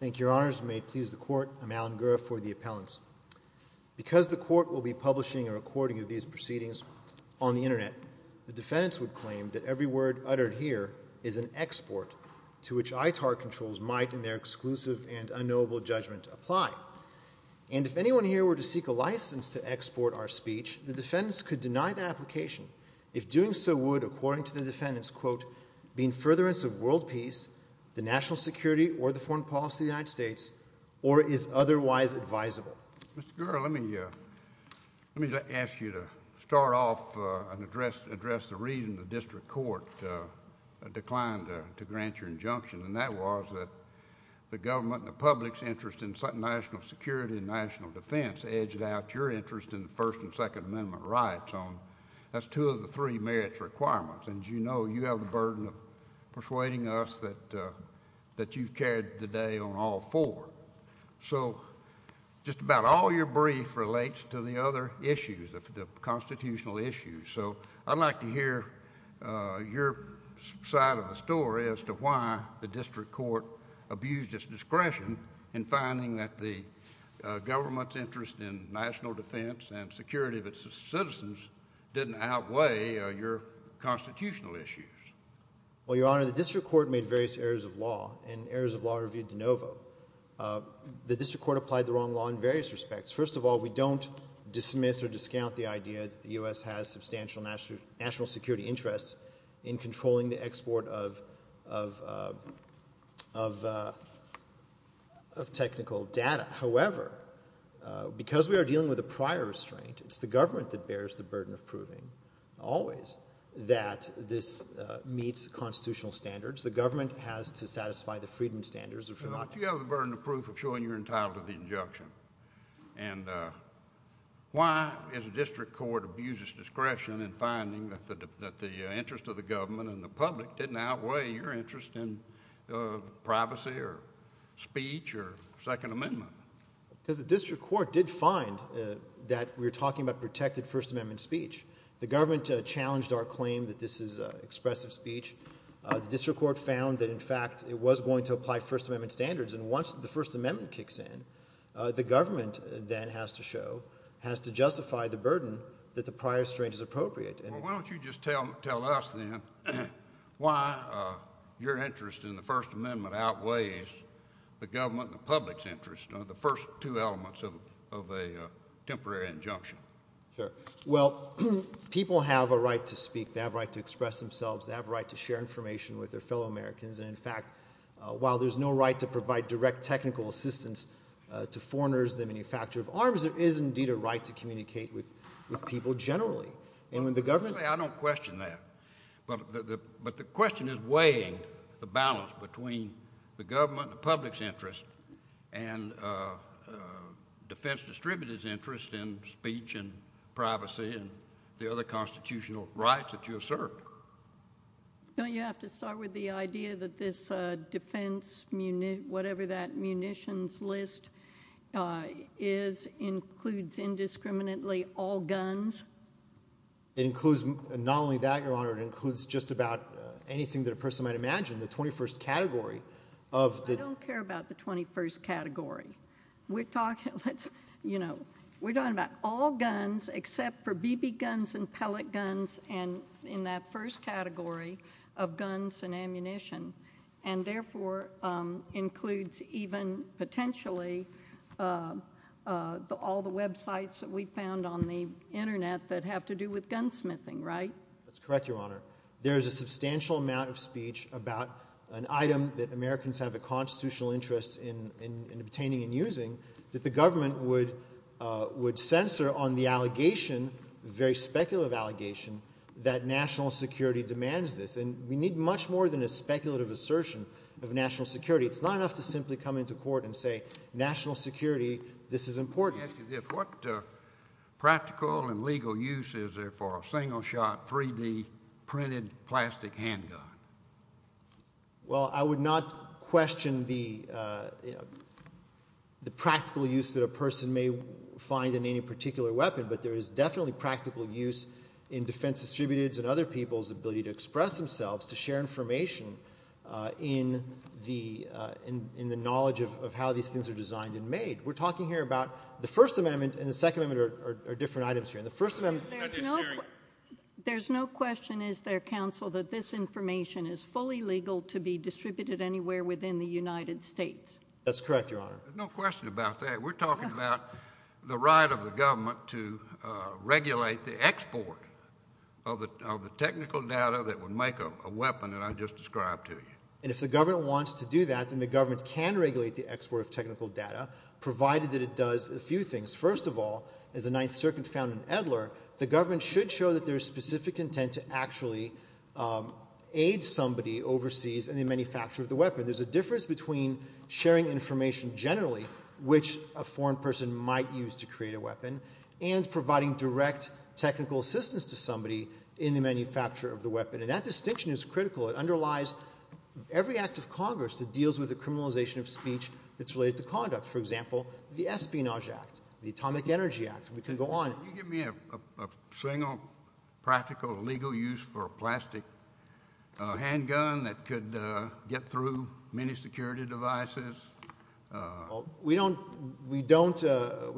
Thank you, Your Honors, and may it please the Court, I'm Alan Gura for the Appellants. Because the Court will be publishing a recording of these proceedings on the Internet, the is an export to which ITAR controls might, in their exclusive and unknowable judgment, apply. And if anyone here were to seek a license to export our speech, the defendants could deny that application, if doing so would, according to the defendants, quote, be in furtherance of world peace, the national security, or the foreign policy of the United States, or is otherwise advisable. Mr. Gura, let me ask you to start off and address the reason the District Court declined to grant your injunction, and that was that the government and the public's interest in national security and national defense edged out your interest in the First and Second Amendment rights on, that's two of the three merits requirements, and as you know, you have the burden of persuading us that you've carried the day on all four. So, just about all your brief relates to the other issues, the constitutional issues. So, I'd like to hear your side of the story as to why the District Court abused its discretion in finding that the government's interest in national defense and security of its citizens didn't outweigh your constitutional issues. Well, Your Honor, the District Court made various errors of law, and errors of law are obvious, de novo. The District Court applied the wrong law in various respects. First of all, we don't dismiss or discount the idea that the U.S. has substantial national security interests in controlling the export of technical data. However, because we are dealing with a prior restraint, it's the government that bears the burden of proving, always, that this meets constitutional standards. The government has to satisfy the freedom standards of Vermont. But you have the burden of proof of showing you're entitled to the injunction, and why is the District Court abused its discretion in finding that the interest of the government and the public didn't outweigh your interest in privacy or speech or Second Amendment? Because the District Court did find that we were talking about protected First Amendment speech. The government challenged our claim that this is expressive speech. The District Court found that, in fact, it was going to apply First Amendment standards. And once the First Amendment kicks in, the government, then, has to show, has to justify the burden that the prior restraint is appropriate. Well, why don't you just tell us, then, why your interest in the First Amendment outweighs the government and the public's interest, the first two elements of a temporary injunction? Sure. Well, people have a right to speak. They have a right to express themselves. They have a right to share information with their fellow Americans. And, in fact, while there's no right to provide direct technical assistance to foreigners in the manufacture of arms, there is, indeed, a right to communicate with people generally. And when the government— I don't question that. But the question is weighing the balance between the government and the public's interest, and defense distributors' interest in speech and privacy and the other constitutional rights that you assert. Don't you have to start with the idea that this defense—whatever that munitions list is—includes indiscriminately all guns? It includes not only that, Your Honor, it includes just about anything that a person might imagine. The 21st category of the— I don't care about the 21st category. We're talking about all guns except for BB guns and pellet guns in that first category of guns and ammunition. And therefore, includes even potentially all the websites that we found on the Internet that have to do with gunsmithing, right? That's correct, Your Honor. There is a substantial amount of speech about an item that Americans have a constitutional interest in obtaining and using that the government would censor on the allegation—a very speculative allegation—that national security demands this. And we need much more than a speculative assertion of national security. It's not enough to simply come into court and say, national security, this is important. Let me ask you this. What practical and legal use is there for a single-shot 3D printed plastic handgun? Well, I would not question the practical use that a person may find in any particular weapon, but there is definitely practical use in defense distributors and other people's ability to express themselves, to share information in the knowledge of how these things are designed and made. We're talking here about the First Amendment and the Second Amendment are different items here. In the First Amendment— There's no question, is there, Counsel, that this information is fully legal to be distributed anywhere within the United States? That's correct, Your Honor. There's no question about that. We're talking about the right of the government to regulate the export of the technical data that would make a weapon that I just described to you. And if the government wants to do that, then the government can regulate the export of technical data, provided that it does a few things. First of all, as the Ninth Circuit found in Edler, the government should show that there is specific intent to actually aid somebody overseas in the manufacture of the weapon. There's a difference between sharing information generally, which a foreign person might use to create a weapon, and providing direct technical assistance to somebody in the manufacture of the weapon. And that distinction is critical. It underlies every act of Congress that deals with the criminalization of speech that's related to conduct. For example, the Espionage Act, the Atomic Energy Act, we can go on. Can you give me a single practical legal use for a plastic handgun that could get through many security devices? We don't, we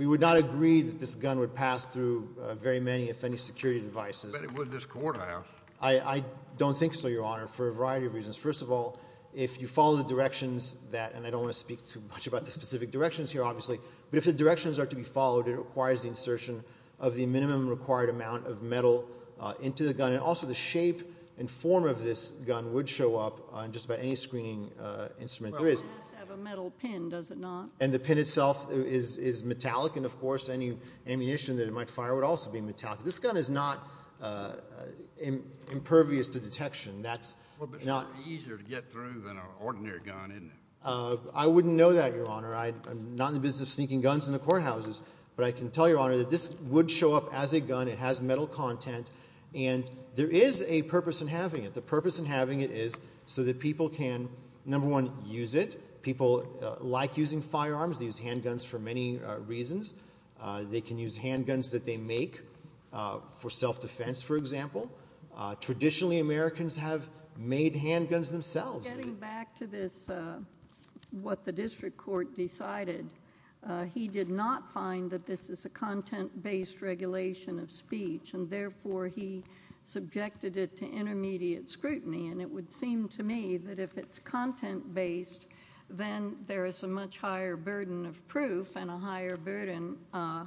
would not agree that this gun would pass through very many, if any, security devices. But it would this courthouse. I don't think so, Your Honor, for a variety of reasons. First of all, if you follow the directions that, and I don't want to speak too much about the specific directions here, obviously, but if the directions are to be followed, it requires the insertion of the minimum required amount of metal into the gun. And also the shape and form of this gun would show up on just about any screening instrument there is. Well, it has to have a metal pin, does it not? And the pin itself is metallic, and of course, any ammunition that it might fire would also be metallic. This gun is not impervious to detection. That's not... Well, but it's easier to get through than an ordinary gun, isn't it? I wouldn't know that, Your Honor. I'm not in the business of sneaking guns in the courthouses, but I can tell Your Honor that this would show up as a gun. It has metal content, and there is a purpose in having it. The purpose in having it is so that people can, number one, use it. People like using firearms, they use handguns for many reasons. They can use handguns that they make for self-defense, for example. Traditionally, Americans have made handguns themselves. Getting back to this, what the district court decided, he did not find that this is a content-based regulation of speech, and therefore, he subjected it to intermediate scrutiny, and it would seem to me that if it's content-based, then there is a much higher burden of proof and a higher burden, a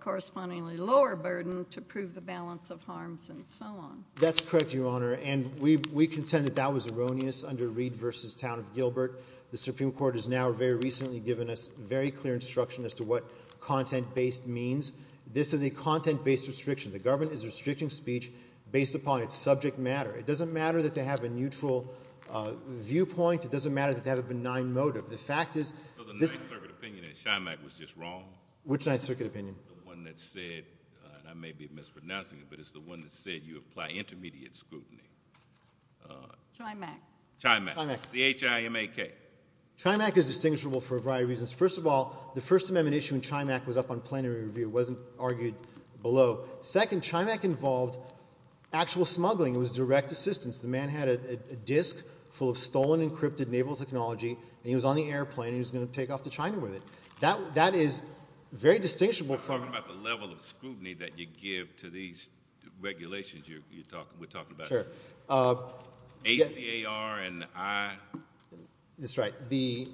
correspondingly lower burden to prove the balance of harms and so on. That's correct, Your Honor. We contend that that was erroneous under Reed v. Town of Gilbert. The Supreme Court has now very recently given us very clear instruction as to what content-based means. This is a content-based restriction. The government is restricting speech based upon its subject matter. It doesn't matter that they have a neutral viewpoint. It doesn't matter that they have a benign motive. The fact is— So the Ninth Circuit opinion at Chimack was just wrong? Which Ninth Circuit opinion? The one that said, and I may be mispronouncing it, but it's the one that said you apply intermediate scrutiny. Chimack. Chimack. Chimack. The H-I-M-A-K. Chimack is distinguishable for a variety of reasons. First of all, the First Amendment issue in Chimack was up on plenary review. It wasn't argued below. Second, Chimack involved actual smuggling. It was direct assistance. The man had a disk full of stolen, encrypted naval technology, and he was on the airplane and he was going to take off to China with it. That is very distinguishable from— Regulations you're talking—we're talking about. Sure. ACAR and I— That's right. The—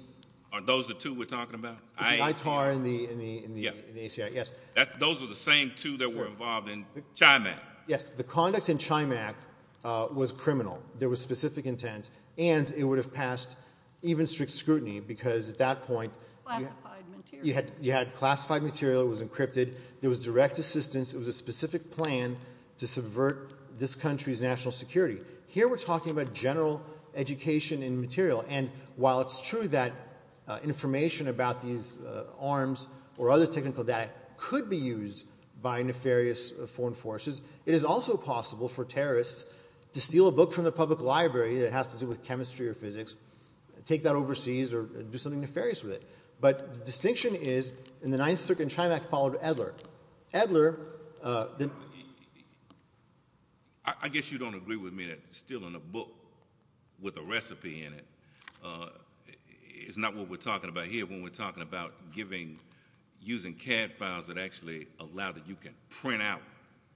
Are those the two we're talking about? The ITAR and the— Yeah. The ACAR, yes. Those are the same two that were involved in Chimack. Yes. The conduct in Chimack was criminal. There was specific intent, and it would have passed even strict scrutiny because at that point— Classified material. You had classified material. It was encrypted. There was direct assistance. It was a specific plan. to subvert this country's national security. Here we're talking about general education in material, and while it's true that information about these arms or other technical data could be used by nefarious foreign forces, it is also possible for terrorists to steal a book from the public library that has to do with chemistry or physics, take that overseas, or do something nefarious with it. But the distinction is in the Ninth Circuit in Chimack, followed by Edler, Edler— I guess you don't agree with me that stealing a book with a recipe in it is not what we're talking about here when we're talking about giving—using CAD files that actually allow that you can print out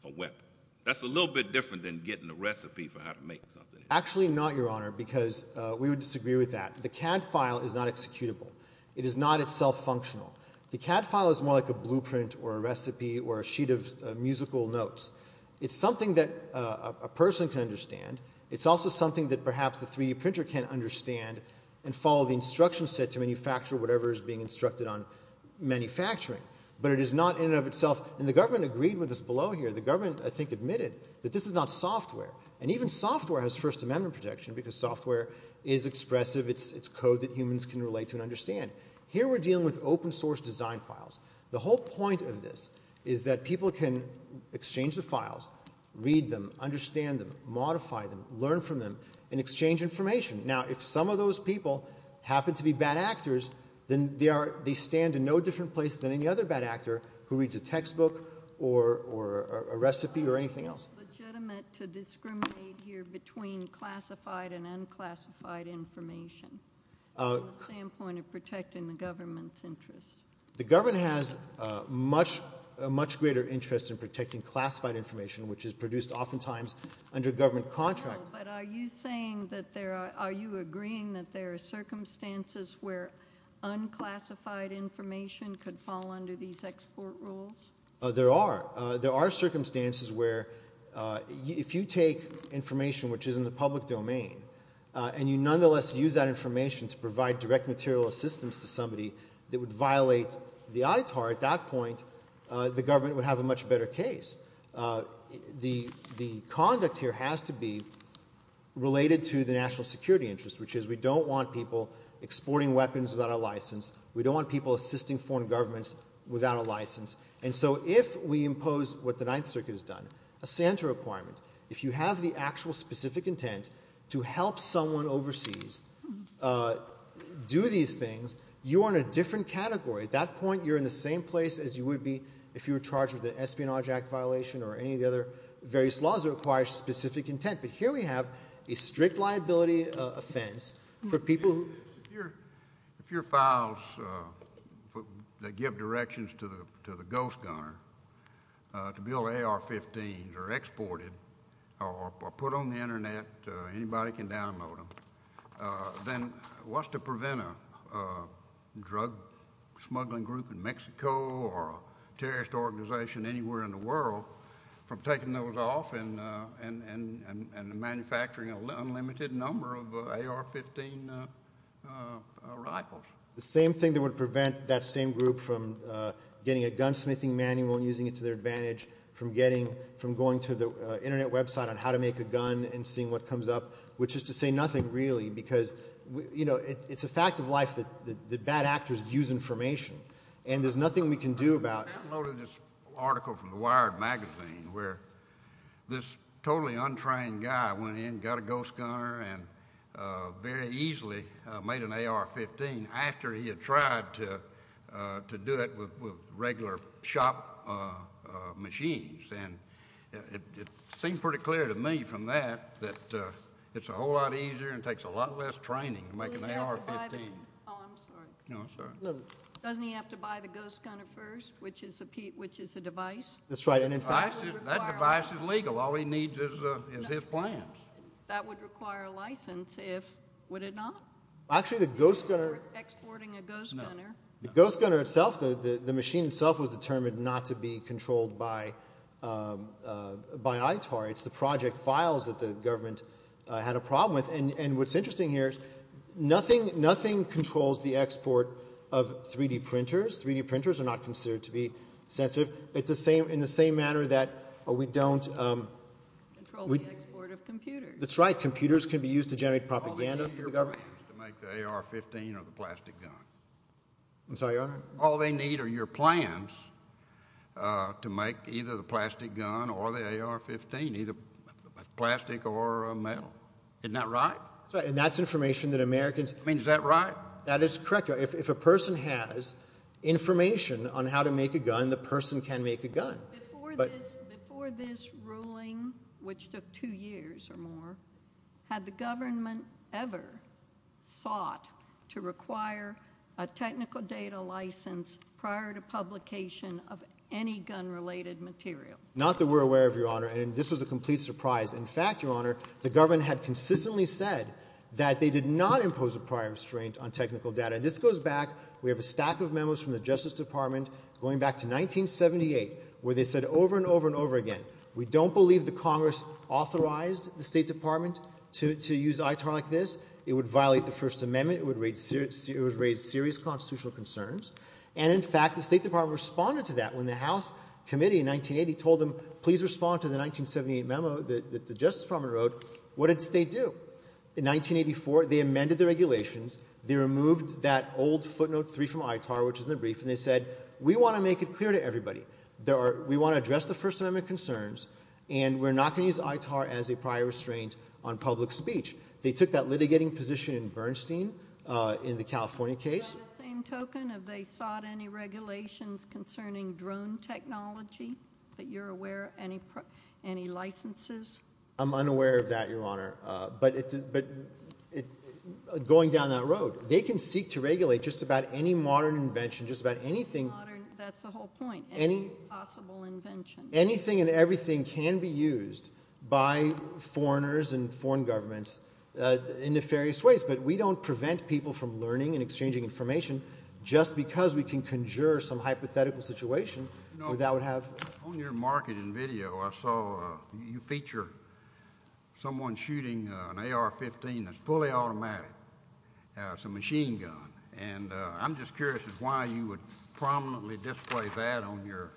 a weapon. That's a little bit different than getting a recipe for how to make something. Actually not, Your Honor, because we would disagree with that. The CAD file is not executable. It is not itself functional. The CAD file is more like a blueprint or a recipe or a sheet of musical notes. It's something that a person can understand. It's also something that perhaps the 3D printer can understand and follow the instructions set to manufacture whatever is being instructed on manufacturing. But it is not in and of itself—and the government agreed with us below here. The government, I think, admitted that this is not software, and even software has First Amendment protection because software is expressive. It's code that humans can relate to and understand. Here we're dealing with open source design files. The whole point of this is that people can exchange the files, read them, understand them, modify them, learn from them, and exchange information. Now, if some of those people happen to be bad actors, then they are—they stand in no different place than any other bad actor who reads a textbook or a recipe or anything else. Is it legitimate to discriminate here between classified and unclassified information from the standpoint of protecting the government's interests? The government has a much greater interest in protecting classified information, which is produced oftentimes under government contracts. No, but are you saying that there are—are you agreeing that there are circumstances where unclassified information could fall under these export rules? There are. There are circumstances where if you take information which is in the public domain and you nonetheless use that information to provide direct material assistance to somebody that would violate the ITAR, at that point, the government would have a much better case. The conduct here has to be related to the national security interest, which is we don't want people exporting weapons without a license. And so if we impose what the Ninth Circuit has done, a SANTA requirement, if you have the actual specific intent to help someone overseas do these things, you are in a different category. At that point, you are in the same place as you would be if you were charged with an Espionage Act violation or any of the other various laws that require specific intent. But here we have a strict liability offense for people who— a ghost gunner, to build AR-15s or export them or put them on the Internet, anybody can download them, then what's to prevent a drug smuggling group in Mexico or a terrorist organization anywhere in the world from taking those off and manufacturing an unlimited number of AR-15 rifles? The same thing that would prevent that same group from getting a gunsmithing manual and using it to their advantage, from going to the Internet website on how to make a gun and seeing what comes up, which is to say nothing, really, because, you know, it's a fact of life that bad actors use information, and there's nothing we can do about it. I downloaded this article from the Wired magazine where this totally untrained guy went in, got a ghost gunner, and very easily made an AR-15 after he had tried to do it with regular shop machines. And it seemed pretty clear to me from that that it's a whole lot easier and takes a lot less training to make an AR-15. Oh, I'm sorry. No, I'm sorry. Doesn't he have to buy the ghost gunner first, which is a device? That's right. And in fact— That device is legal. All he needs is his plans. That would require a license, if—would it not? Actually the ghost gunner— Exporting a ghost gunner. No. The ghost gunner itself, the machine itself, was determined not to be controlled by ITAR. It's the project files that the government had a problem with. And what's interesting here is nothing controls the export of 3-D printers. 3-D printers are not considered to be sensitive. It's the same—in the same manner that we don't— Control the export of computers. That's right. Computers can be used to generate propaganda for the government. All they need is your plans to make the AR-15 or the plastic gun. I'm sorry, Your Honor? All they need are your plans to make either the plastic gun or the AR-15, either plastic or metal. Isn't that right? That's right. And that's information that Americans— I mean, is that right? That is correct, Your Honor. If a person has information on how to make a gun, the person can make a gun. Before this ruling, which took two years or more, had the government ever sought to require a technical data license prior to publication of any gun-related material? Not that we're aware of, Your Honor, and this was a complete surprise. In fact, Your Honor, the government had consistently said that they did not impose a prior restraint on technical data. And this goes back—we have a stack of memos from the Justice Department going back to 1978 where they said over and over and over again, we don't believe the Congress authorized the State Department to use ITAR like this. It would violate the First Amendment. It would raise serious constitutional concerns. And in fact, the State Department responded to that when the House Committee in 1980 told them, please respond to the 1978 memo that the Justice Department wrote. What did the State do? In 1984, they amended the regulations. They removed that old footnote three from ITAR, which is in the brief, and they said, we want to make it clear to everybody. We want to address the First Amendment concerns, and we're not going to use ITAR as a prior restraint on public speech. They took that litigating position in Bernstein in the California case. By the same token, have they sought any regulations concerning drone technology that you're aware of? Any licenses? I'm unaware of that, Your Honor, but going down that road, they can seek to regulate just about any modern invention, just about anything. That's the whole point. Any possible invention. Anything and everything can be used by foreigners and foreign governments in nefarious ways, but we don't prevent people from learning and exchanging information just because we can conjure some hypothetical situation that would have... On your marketing video, I saw you feature someone shooting an AR-15 that's fully automatic. It's a machine gun, and I'm just curious as to why you would prominently display that on your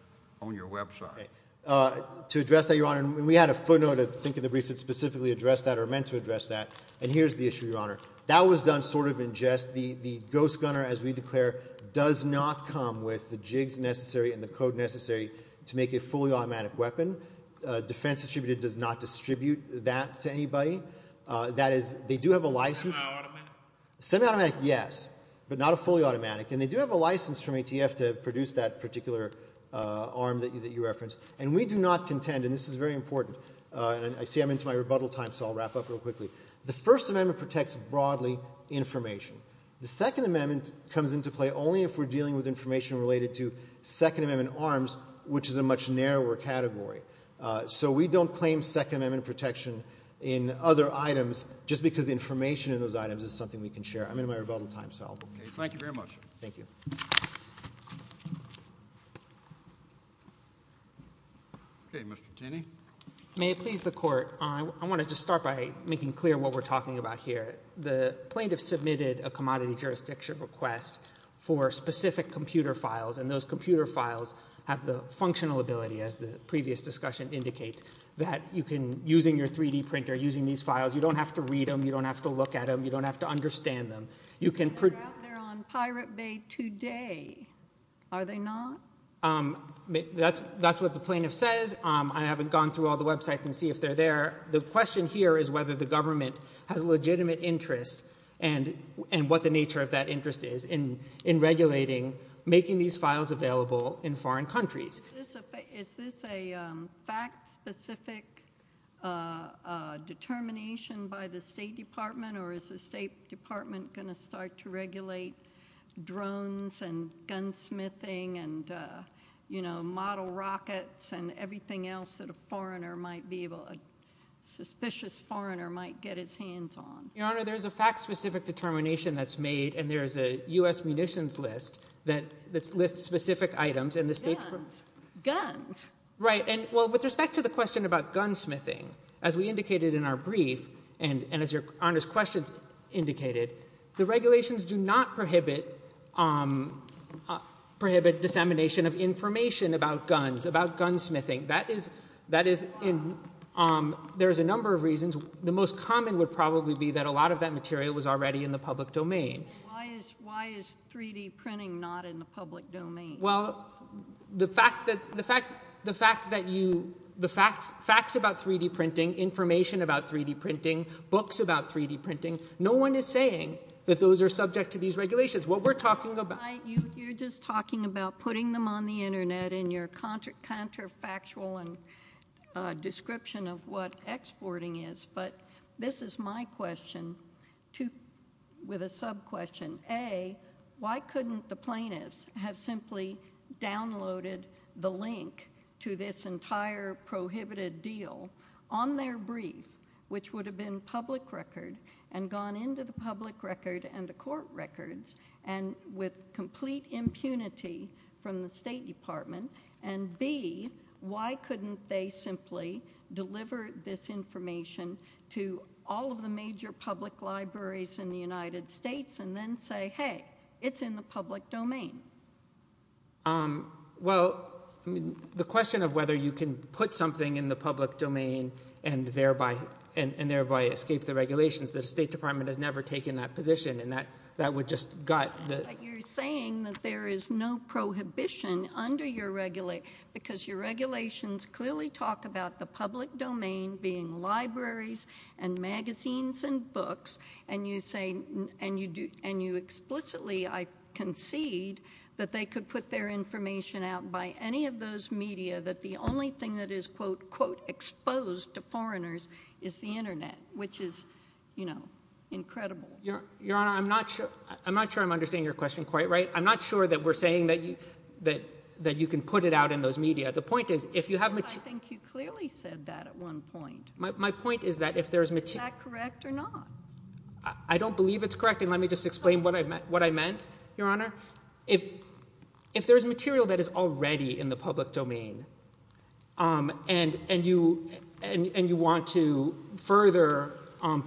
website. To address that, Your Honor, we had a footnote, I think, in the brief that specifically addressed that or meant to address that, and here's the issue, Your Honor. That was done sort of in jest. The ghost gunner, as we declare, does not come with the jigs necessary and the code necessary to make a fully automatic weapon. Defense Distributed does not distribute that to anybody. That is, they do have a license... Semi-automatic? Semi-automatic, yes, but not a fully automatic, and they do have a license from ATF to produce that particular arm that you referenced, and we do not contend, and this is very important, and I see I'm into my rebuttal time, so I'll wrap up real quickly. The First Amendment protects broadly information. The Second Amendment comes into play only if we're dealing with information related to Second Amendment arms, which is a much narrower category, so we don't claim Second Amendment protection in other items just because information in those items is something we can share. I'm in my rebuttal time, so I'll... Okay. Thank you very much. Thank you. Okay. Mr. Taney? May it please the Court, I want to just start by making clear what we're talking about here. The plaintiff submitted a commodity jurisdiction request for specific computer files, and those computer files have the functional ability, as the previous discussion indicates, that you can, using your 3D printer, using these files, you don't have to read them, you don't have to look at them, you don't have to understand them. You can... They're out there on Pirate Bay today, are they not? That's what the plaintiff says. I haven't gone through all the websites and see if they're there. The question here is whether the government has a legitimate interest and what the nature of that interest is in regulating, making these files available in foreign countries. Is this a fact-specific determination by the State Department, or is the State Department going to start to regulate drones and gunsmithing and, you know, model rockets and everything else that a suspicious foreigner might get his hands on? Your Honor, there's a fact-specific determination that's made, and there's a U.S. munitions list that lists specific items, and the State Department... Guns. Right. And, well, with respect to the question about gunsmithing, as we indicated in our brief, and as Your Honor's questions indicated, the regulations do not prohibit dissemination of information about guns, about gunsmithing. That is in... There's a number of reasons. The most common would probably be that a lot of that material was already in the public domain. Why is 3-D printing not in the public domain? Well, the fact that you... The facts about 3-D printing, information about 3-D printing, books about 3-D printing, no one is saying that those are subject to these regulations. What we're talking about... Your Honor, I... You're just talking about putting them on the Internet in your counterfactual description of what exporting is, but this is my question, too, with a sub-question. A, why couldn't the plaintiffs have simply downloaded the link to this entire prohibited deal on their brief, which would have been public record, and gone into the public record and the court records, and with complete impunity from the State Department? And B, why couldn't they simply deliver this information to all of the major public libraries in the United States, and then say, hey, it's in the public domain? Well, I mean, the question of whether you can put something in the public domain and thereby escape the regulations, the State Department has never taken that position, and that would just gut the... But you're saying that there is no prohibition under your... Because your regulations clearly talk about the public domain being libraries and magazines and books, and you say... And you explicitly, I concede, that they could put their information out by any of those media, that the only thing that is, quote, quote, exposed to foreigners is the internet, which is incredible. Your Honor, I'm not sure I'm understanding your question quite right. I'm not sure that we're saying that you can put it out in those media. The point is, if you have... Yes, I think you clearly said that at one point. My point is that if there's... Is that correct or not? I don't believe it's correct, and let me just explain what I meant, Your Honor. If there's material that is already in the public domain, and you want to further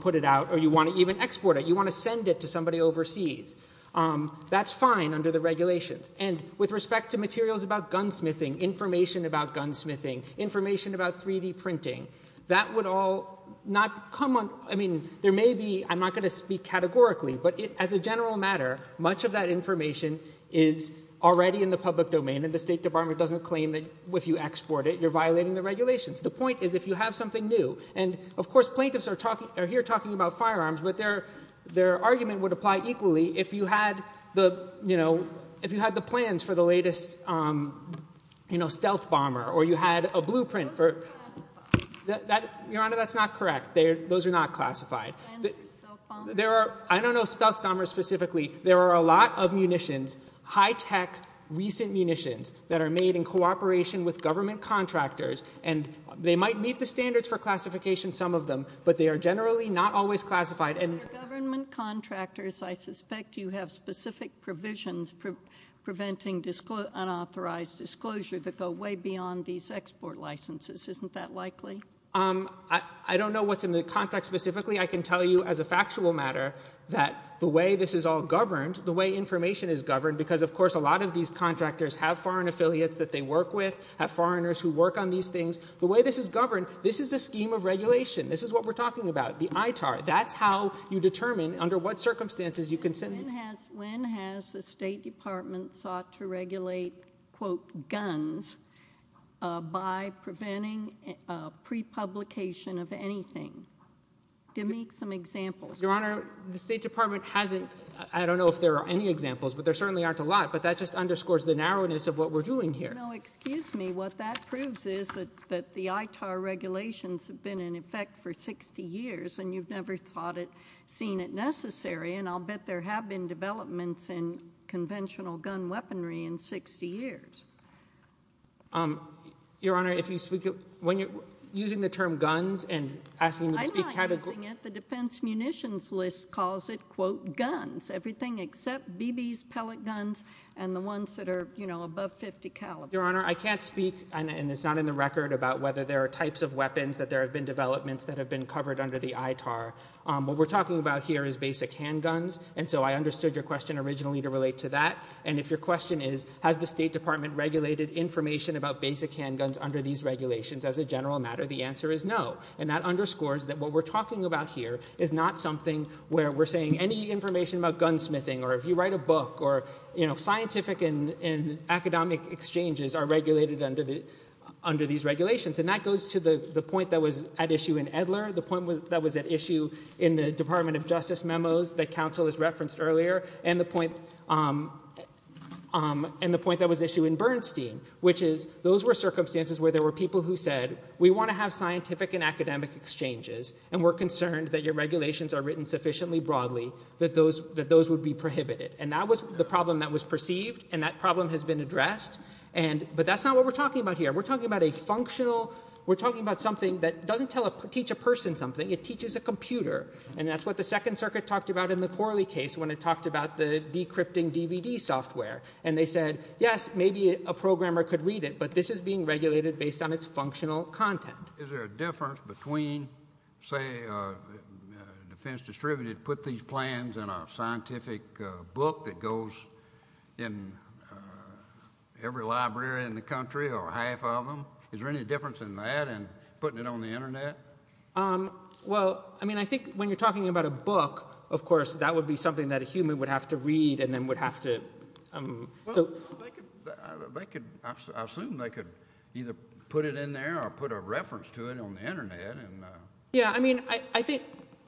put it out, or you want to even export it, you want to send it to somebody overseas, that's fine under the regulations. And with respect to materials about gunsmithing, information about gunsmithing, information about 3D printing, that would all not come on... I mean, there may be... But as a general matter, much of that information is already in the public domain, and the State Department doesn't claim that if you export it, you're violating the regulations. The point is, if you have something new... And of course, plaintiffs are here talking about firearms, but their argument would apply equally if you had the plans for the latest stealth bomber, or you had a blueprint for... Those are classified. Your Honor, that's not correct. Those are not classified. Plans for stealth bombers. I don't know stealth bombers specifically. There are a lot of munitions, high-tech, recent munitions, that are made in cooperation with government contractors. And they might meet the standards for classification, some of them, but they are generally not always classified. Government contractors, I suspect you have specific provisions preventing unauthorized disclosure that go way beyond these export licenses. Isn't that likely? I don't know what's in the contract specifically. I can tell you as a factual matter that the way this is all governed, the way information is governed, because of course, a lot of these contractors have foreign affiliates that they work with, have foreigners who work on these things. The way this is governed, this is a scheme of regulation. This is what we're talking about, the ITAR. That's how you determine under what circumstances you can send... When has the State Department sought to regulate, quote, guns by preventing pre-publication of anything? Give me some examples. Your Honor, the State Department hasn't, I don't know if there are any examples, but there certainly aren't a lot, but that just underscores the narrowness of what we're doing here. No, excuse me. What that proves is that the ITAR regulations have been in effect for 60 years, and you've never thought it, seen it necessary, and I'll bet there have been developments in conventional gun weaponry in 60 years. Your Honor, if you speak, when you're using the term guns, and asking me to speak... I'm not using it. The Defense Munitions List calls it, quote, guns, everything except BBs, pellet guns, and the ones that are, you know, above .50 caliber. Your Honor, I can't speak, and it's not in the record, about whether there are types of weapons that there have been developments that have been covered under the ITAR. What we're talking about here is basic handguns, and so I understood your question originally to relate to that. And if your question is, has the State Department regulated information about basic handguns under these regulations as a general matter, the answer is no. And that underscores that what we're talking about here is not something where we're saying any information about gunsmithing, or if you write a book, or, you know, scientific and academic exchanges are regulated under these regulations, and that goes to the point that was at issue in Edler, the point that was at issue in the Department of Justice memos that counsel has referenced earlier, and the point that was issued in Bernstein, which is those were circumstances where there were people who said, we want to have scientific and academic exchanges, and we're concerned that your regulations are written sufficiently broadly that those would be prohibited. And that was the problem that was perceived, and that problem has been addressed, but that's not what we're talking about here. We're talking about a functional, we're talking about something that doesn't teach a person something, it teaches a computer. And that's what the Second Circuit talked about in the Corley case when it talked about the decrypting DVD software, and they said, yes, maybe a programmer could read it, but this is being regulated based on its functional content. Is there a difference between, say, a defense distributor put these plans in a scientific book that goes in every library in the country, or half of them? Is there any difference in that and putting it on the Internet? Well, I mean, I think when you're talking about a book, of course, that would be something that a human would have to read and then would have to... Well, they could, I assume they could either put it in there or put a reference to it on the Internet. Yeah, I mean, I think,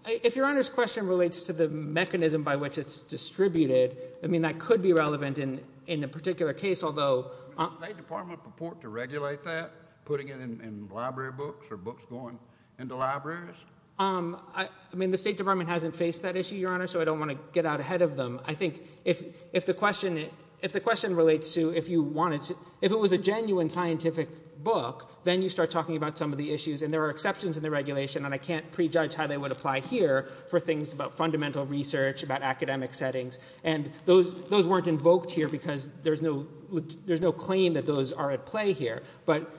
if your Honor's question relates to the mechanism by which it's distributed, I mean, that could be relevant in a particular case, although... Does the State Department purport to regulate that, putting it in library books or books going into libraries? I mean, the State Department hasn't faced that issue, Your Honor, so I don't want to get out ahead of them. I think if the question relates to if you wanted to, if it was a genuine scientific book, then you start talking about some of the issues, and there are exceptions in the regulation, and I can't prejudge how they would apply here for things about fundamental research, about academic settings, and those weren't invoked here because there's no claim that those are at play here, but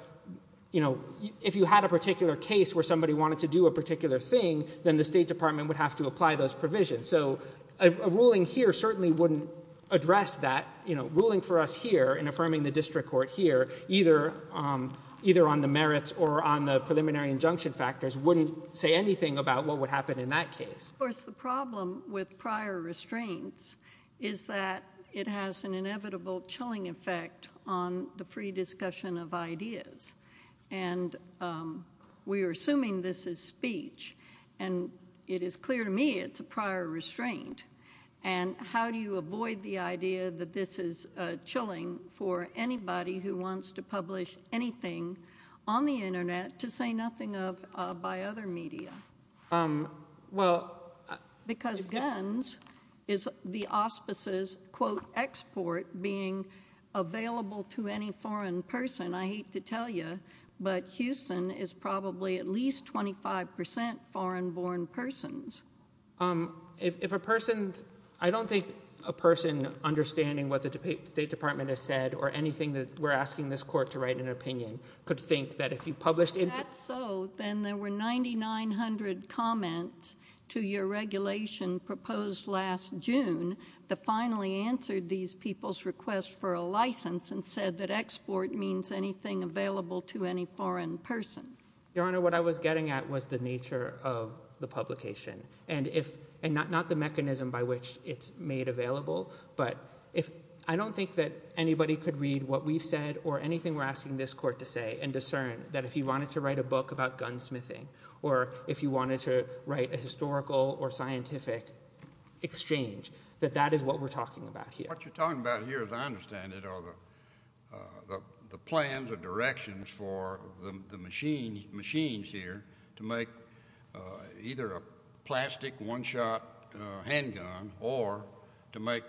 if you had a particular case where somebody wanted to do a particular thing, then the State Department would have to apply those provisions. So a ruling here certainly wouldn't address that. Ruling for us here in affirming the district court here, either on the merits or on the preliminary injunction factors, wouldn't say anything about what would happen in that case. Of course, the problem with prior restraints is that it has an inevitable chilling effect on the free discussion of ideas, and we are assuming this is speech, and it is clear to me it's a prior restraint, and how do you avoid the idea that this is chilling for anybody who wants to publish anything on the Internet to say nothing of by other media? Well, because GUNS is the auspices, quote, export being available to any foreign person, I hate to tell you, but Houston is probably at least 25% foreign-born persons. If a person, I don't think a person understanding what the State Department has said or anything that we're asking this court to write an opinion could think that if you published If that's so, then there were 9,900 comments to your regulation proposed last June that finally answered these people's request for a license and said that export means anything available to any foreign person. Your Honor, what I was getting at was the nature of the publication, and not the mechanism by which it's made available, but I don't think that anybody could read what we've said or anything we're asking this court to say and discern that if you wanted to write a book about gunsmithing or if you wanted to write a historical or scientific exchange that that is what we're talking about here. What you're talking about here, as I understand it, are the plans or directions for the machines here to make either a plastic one-shot handgun or to make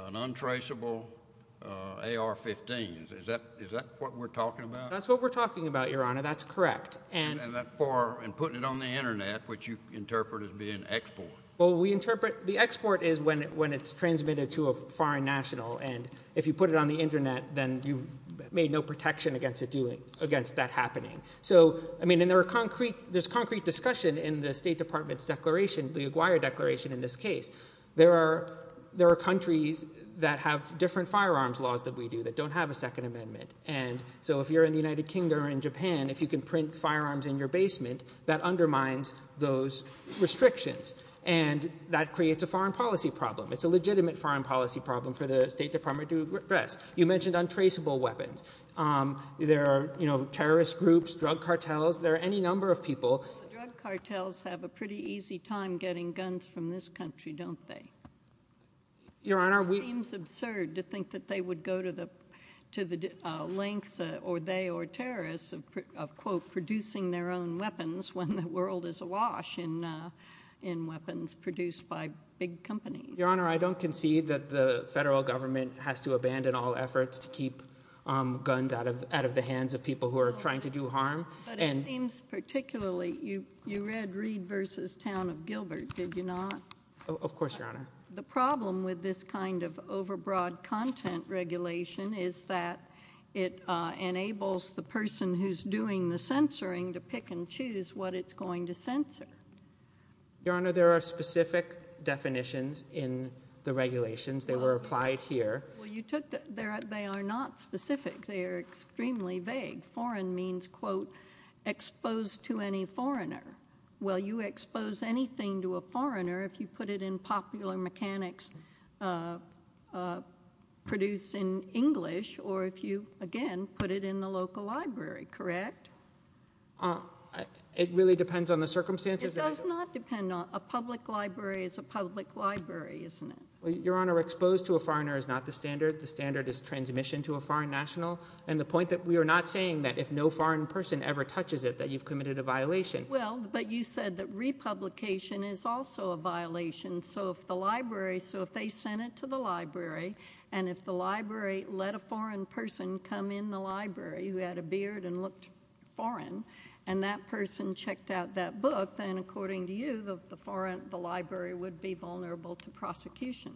an untraceable AR-15. Is that what we're talking about? That's what we're talking about, Your Honor. That's correct. And putting it on the internet, which you interpret as being export. The export is when it's transmitted to a foreign national, and if you put it on the internet, then you've made no protection against that happening. And there's concrete discussion in the State Department's declaration, the Aguirre Declaration in this case. There are countries that have different firearms laws that we do that don't have a Second Amendment. So if you're in the United Kingdom or in Japan, if you can print firearms in your basement, that undermines those restrictions, and that creates a foreign policy problem. It's a legitimate foreign policy problem for the State Department to address. You mentioned untraceable weapons. There are terrorist groups, drug cartels, there are any number of people. Drug cartels have a pretty easy time getting guns from this country, don't they? Your Honor, we— It seems absurd to think that they would go to the lengths, or they or terrorists, of quote producing their own weapons when the world is awash in weapons produced by big companies. Your Honor, I don't concede that the federal government has to abandon all efforts to keep guns out of the hands of people who are trying to do harm. But it seems particularly—you read Reed v. Town of Gilbert, did you not? Of course, Your Honor. The problem with this kind of overbroad content regulation is that it enables the person who's doing the censoring to pick and choose what it's going to censor. Your Honor, there are specific definitions in the regulations. They were applied here. Well, you took—they are not specific. They are extremely vague. Foreign means, quote, exposed to any foreigner. Well, you expose anything to a foreigner if you put it in popular mechanics produced in English or if you, again, put it in the local library, correct? It really depends on the circumstances? It does not depend on—a public library is a public library, isn't it? Your Honor, exposed to a foreigner is not the standard. The standard is transmission to a foreign national, and the point that we are not saying that if no foreign person ever touches it that you've committed a violation. Well, but you said that republication is also a violation. So if the library—so if they sent it to the library, and if the library let a foreign person come in the library who had a beard and looked foreign, and that person checked out that book, then according to you, the library would be vulnerable to prosecution.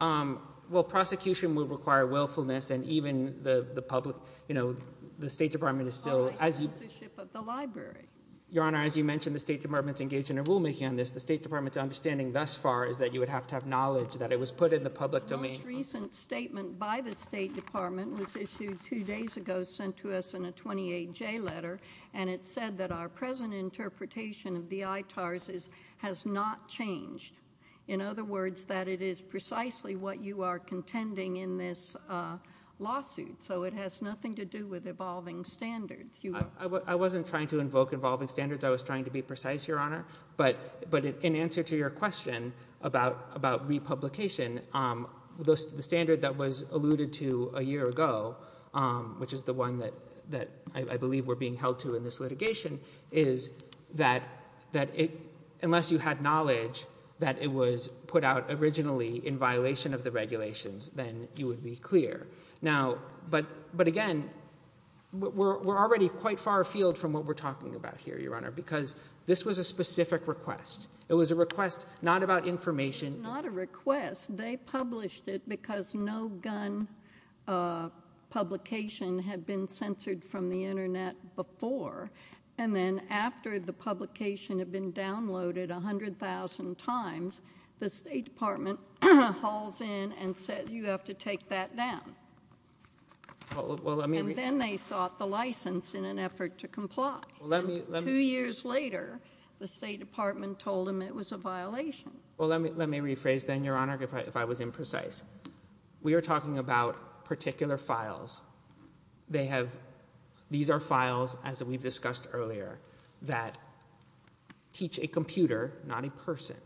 Well, prosecution would require willfulness, and even the public—you know, the State Department is still— By censorship of the library. Your Honor, as you mentioned, the State Department is engaged in a rulemaking on this. The State Department's understanding thus far is that you would have to have knowledge that it was put in the public domain. The most recent statement by the State Department was issued two days ago, sent to us in a 28J letter, and it said that our present interpretation of the ITARS has not changed. In other words, that it is precisely what you are contending in this lawsuit. So it has nothing to do with evolving standards. I wasn't trying to invoke evolving standards. I was trying to be precise, Your Honor. But in answer to your question about republication, the standard that was alluded to a year ago, which is the one that I believe we're being held to in this litigation, is that unless you had knowledge that it was put out originally in violation of the regulations, then you would be clear. Now, but again, we're already quite far afield from what we're talking about here, Your Honor, because this was a specific request. It was a request not about information— It was not a request. They published it because no gun publication had been censored from the Internet before, and then after the publication had been downloaded 100,000 times, the State Department hauls in and says, you have to take that down. And then they sought the license in an effort to comply. Two years later, the State Department told them it was a violation. Well, let me rephrase then, Your Honor. If I was imprecise, we are talking about particular files. They have—these are files, as we've discussed earlier, that teach a computer, not a person,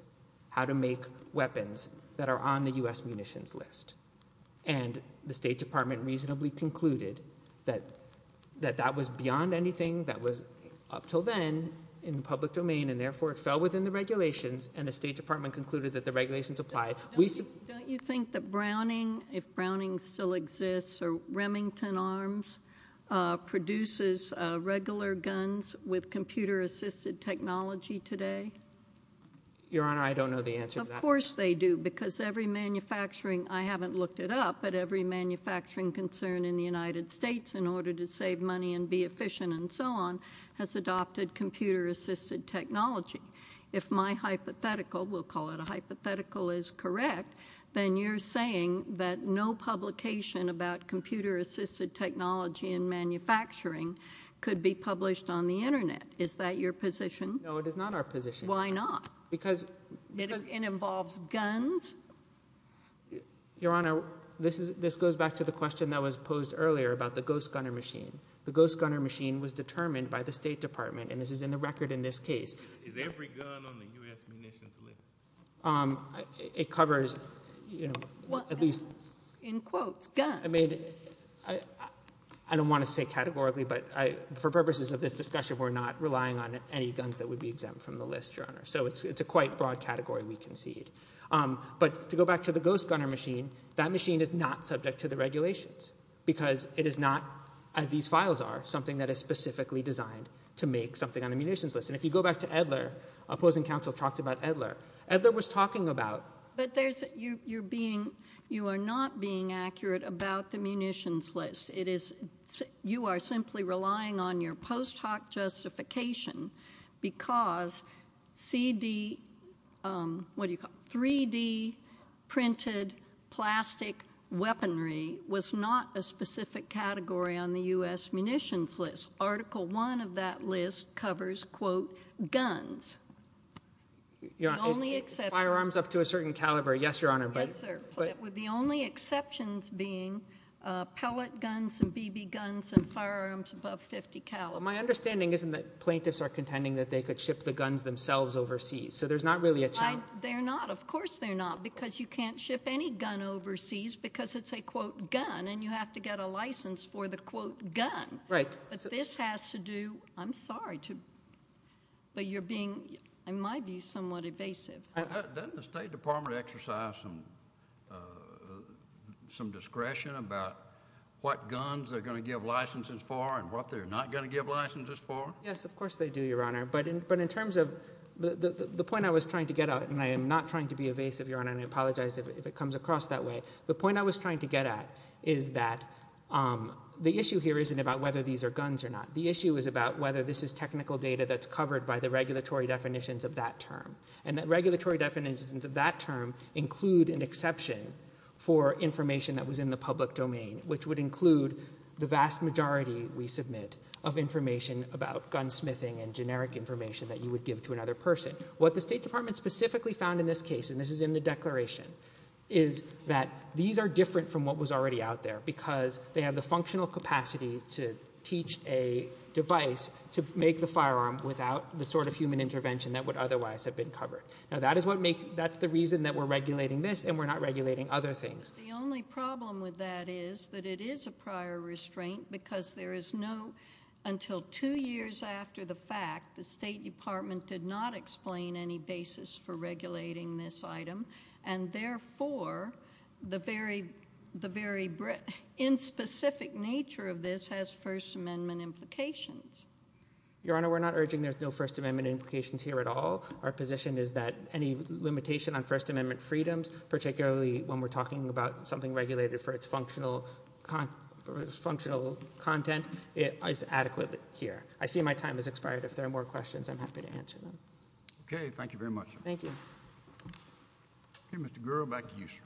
how to make weapons that are on the U.S. munitions list. And the State Department reasonably concluded that that was beyond anything that was up till then in the public domain, and therefore it fell within the regulations, and the State Don't you think that Browning, if Browning still exists, or Remington Arms produces regular guns with computer-assisted technology today? Your Honor, I don't know the answer to that. Of course they do, because every manufacturing—I haven't looked it up, but every manufacturing concern in the United States in order to save money and be efficient and so on has adopted computer-assisted technology. If my hypothetical—we'll call it a hypothetical—is correct, then you're saying that no publication about computer-assisted technology in manufacturing could be published on the Internet. Is that your position? No, it is not our position. Why not? Because— It involves guns? Your Honor, this goes back to the question that was posed earlier about the ghost-gunner machine. The ghost-gunner machine was determined by the State Department, and this is in the record in this case. Is every gun on the U.S. munitions list? It covers, you know, at least— In quotes, guns. I mean, I don't want to say categorically, but for purposes of this discussion, we're not relying on any guns that would be exempt from the list, Your Honor. So it's a quite broad category, we concede. But to go back to the ghost-gunner machine, that machine is not subject to the regulations, because it is not, as these files are, something that is specifically designed to make something on a munitions list. And if you go back to Edler, opposing counsel talked about Edler. Edler was talking about— But there's—you're being—you are not being accurate about the munitions list. It is—you are simply relying on your post hoc justification, because CD—what do you call it—3D printed plastic weaponry was not a specific category on the U.S. munitions list. Article 1 of that list covers, quote, guns. Your Honor, firearms up to a certain caliber, yes, Your Honor, but— Yes, sir. But with the only exceptions being pellet guns and BB guns and firearms above 50 caliber. My understanding isn't that plaintiffs are contending that they could ship the guns themselves overseas. So there's not really a challenge. They're not. Of course they're not, because you can't ship any gun overseas, because it's a, quote, gun, and you have to get a license for the, quote, gun. Right. But this has to do—I'm sorry to—but you're being, in my view, somewhat evasive. Doesn't the State Department exercise some discretion about what guns they're going to give licenses for and what they're not going to give licenses for? Yes, of course they do, Your Honor. But in terms of—the point I was trying to get at, and I am not trying to be evasive, Your Honor, and I apologize if it comes across that way. But the point I was trying to get at is that the issue here isn't about whether these are guns or not. The issue is about whether this is technical data that's covered by the regulatory definitions of that term. And the regulatory definitions of that term include an exception for information that was in the public domain, which would include the vast majority we submit of information about gunsmithing and generic information that you would give to another person. What the State Department specifically found in this case, and this is in the declaration, is that these are different from what was already out there because they have the functional capacity to teach a device to make the firearm without the sort of human intervention that would otherwise have been covered. Now, that is what makes—that's the reason that we're regulating this and we're not regulating other things. The only problem with that is that it is a prior restraint because there is no—until two years after the fact, the State Department did not explain any basis for regulating this item. And, therefore, the very—in specific nature of this has First Amendment implications. Your Honor, we're not urging there's no First Amendment implications here at all. Our position is that any limitation on First Amendment freedoms, particularly when we're talking about something regulated for its functional content, is adequate here. I see my time has expired. If there are more questions, I'm happy to answer them. Okay. Thank you very much. Thank you. Okay, Mr. Gura, back to you, sir.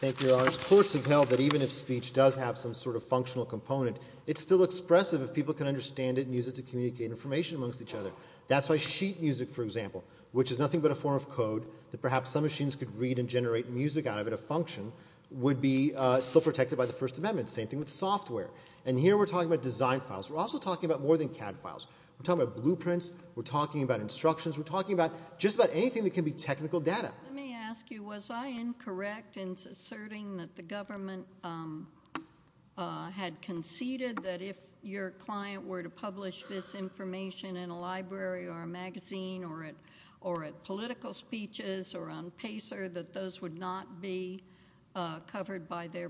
Thank you, Your Honor. Courts have held that even if speech does have some sort of functional component, it's still expressive if people can understand it and use it to communicate information amongst each other. That's why sheet music, for example, which is nothing but a form of code that perhaps some machines could read and generate music out of it, a function, would be still protected by the First Amendment. Same thing with software. And here we're talking about design files. We're also talking about more than CAD files. We're talking about blueprints. We're talking about instructions. We're talking about just about anything that can be technical data. Let me ask you, was I incorrect in asserting that the government had conceded that if your client were to publish this information in a library or a magazine or at political speeches or on Pacer, that those would not be covered by their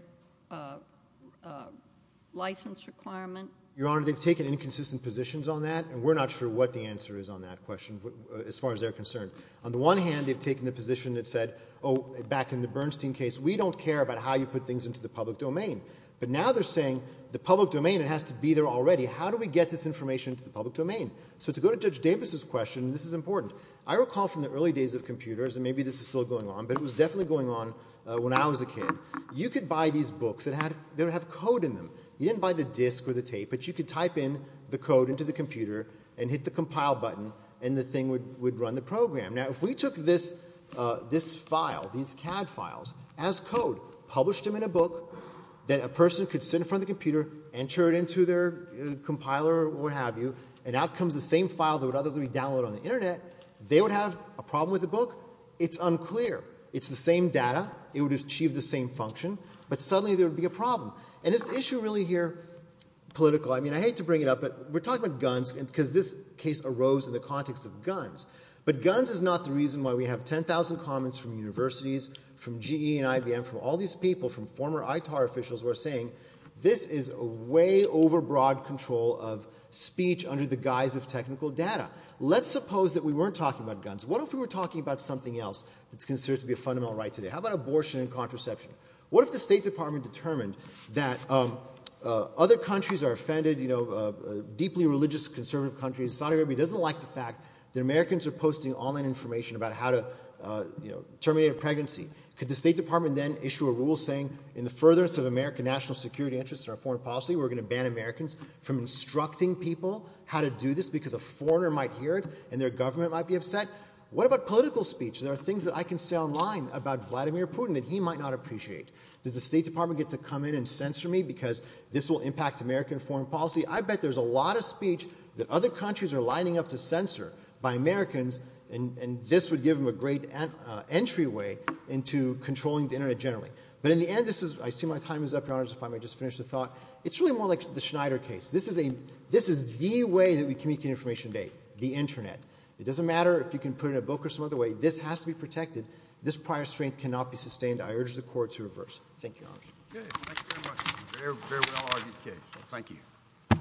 license requirement? Your Honor, they've taken inconsistent positions on that, and we're not sure what the answer is on that question as far as they're concerned. On the one hand, they've taken the position that said, oh, back in the Bernstein case, we don't care about how you put things into the public domain. But now they're saying the public domain, it has to be there already. How do we get this information into the public domain? So to go to Judge Davis's question, and this is important, I recall from the early days of computers, and maybe this is still going on, but it was definitely going on when I was a kid, you could buy these books that had – they would have code in them. You didn't buy the disc or the tape, but you could type in the code into the computer and hit the compile button, and the thing would run the program. Now, if we took this file, these CAD files, as code, published them in a book that a person could sit in front of the computer, enter it into their compiler or what have you, and out comes the same file that would otherwise be downloaded on the Internet, they would have a problem with the book. It's unclear. It's the same data. It would achieve the same function. But suddenly there would be a problem. And is the issue really here political? I mean, I hate to bring it up, but we're talking about guns because this case arose in the context of guns, but guns is not the reason why we have 10,000 comments from universities, from GE and IBM, from all these people, from former ITAR officials who are saying this is way over broad control of speech under the guise of technical data. Let's suppose that we weren't talking about guns. What if we were talking about something else that's considered to be a fundamental right today? How about abortion and contraception? What if the State Department determined that other countries are offended, deeply religious conservative countries, Saudi Arabia doesn't like the fact that Americans are posting online information about how to terminate a pregnancy? Could the State Department then issue a rule saying in the furtherance of American national security interests and our foreign policy, we're going to ban Americans from instructing people how to do this because a foreigner might hear it and their government might be upset? What about political speech? There are things that I can say online about Vladimir Putin that he might not appreciate. Does the State Department get to come in and censor me because this will impact American foreign policy? I bet there's a lot of speech that other countries are lining up to censor by Americans and this would give them a great entryway into controlling the Internet generally. But in the end, I see my time is up, Your Honors, if I may just finish the thought. It's really more like the Schneider case. This is the way that we communicate information today, the Internet. It doesn't matter if you can put it in a book or some other way. This has to be protected. This prior strength cannot be sustained. I urge the Court to reverse it. Thank you, Your Honors. Thank you very much. You very well argued the case. Thank you.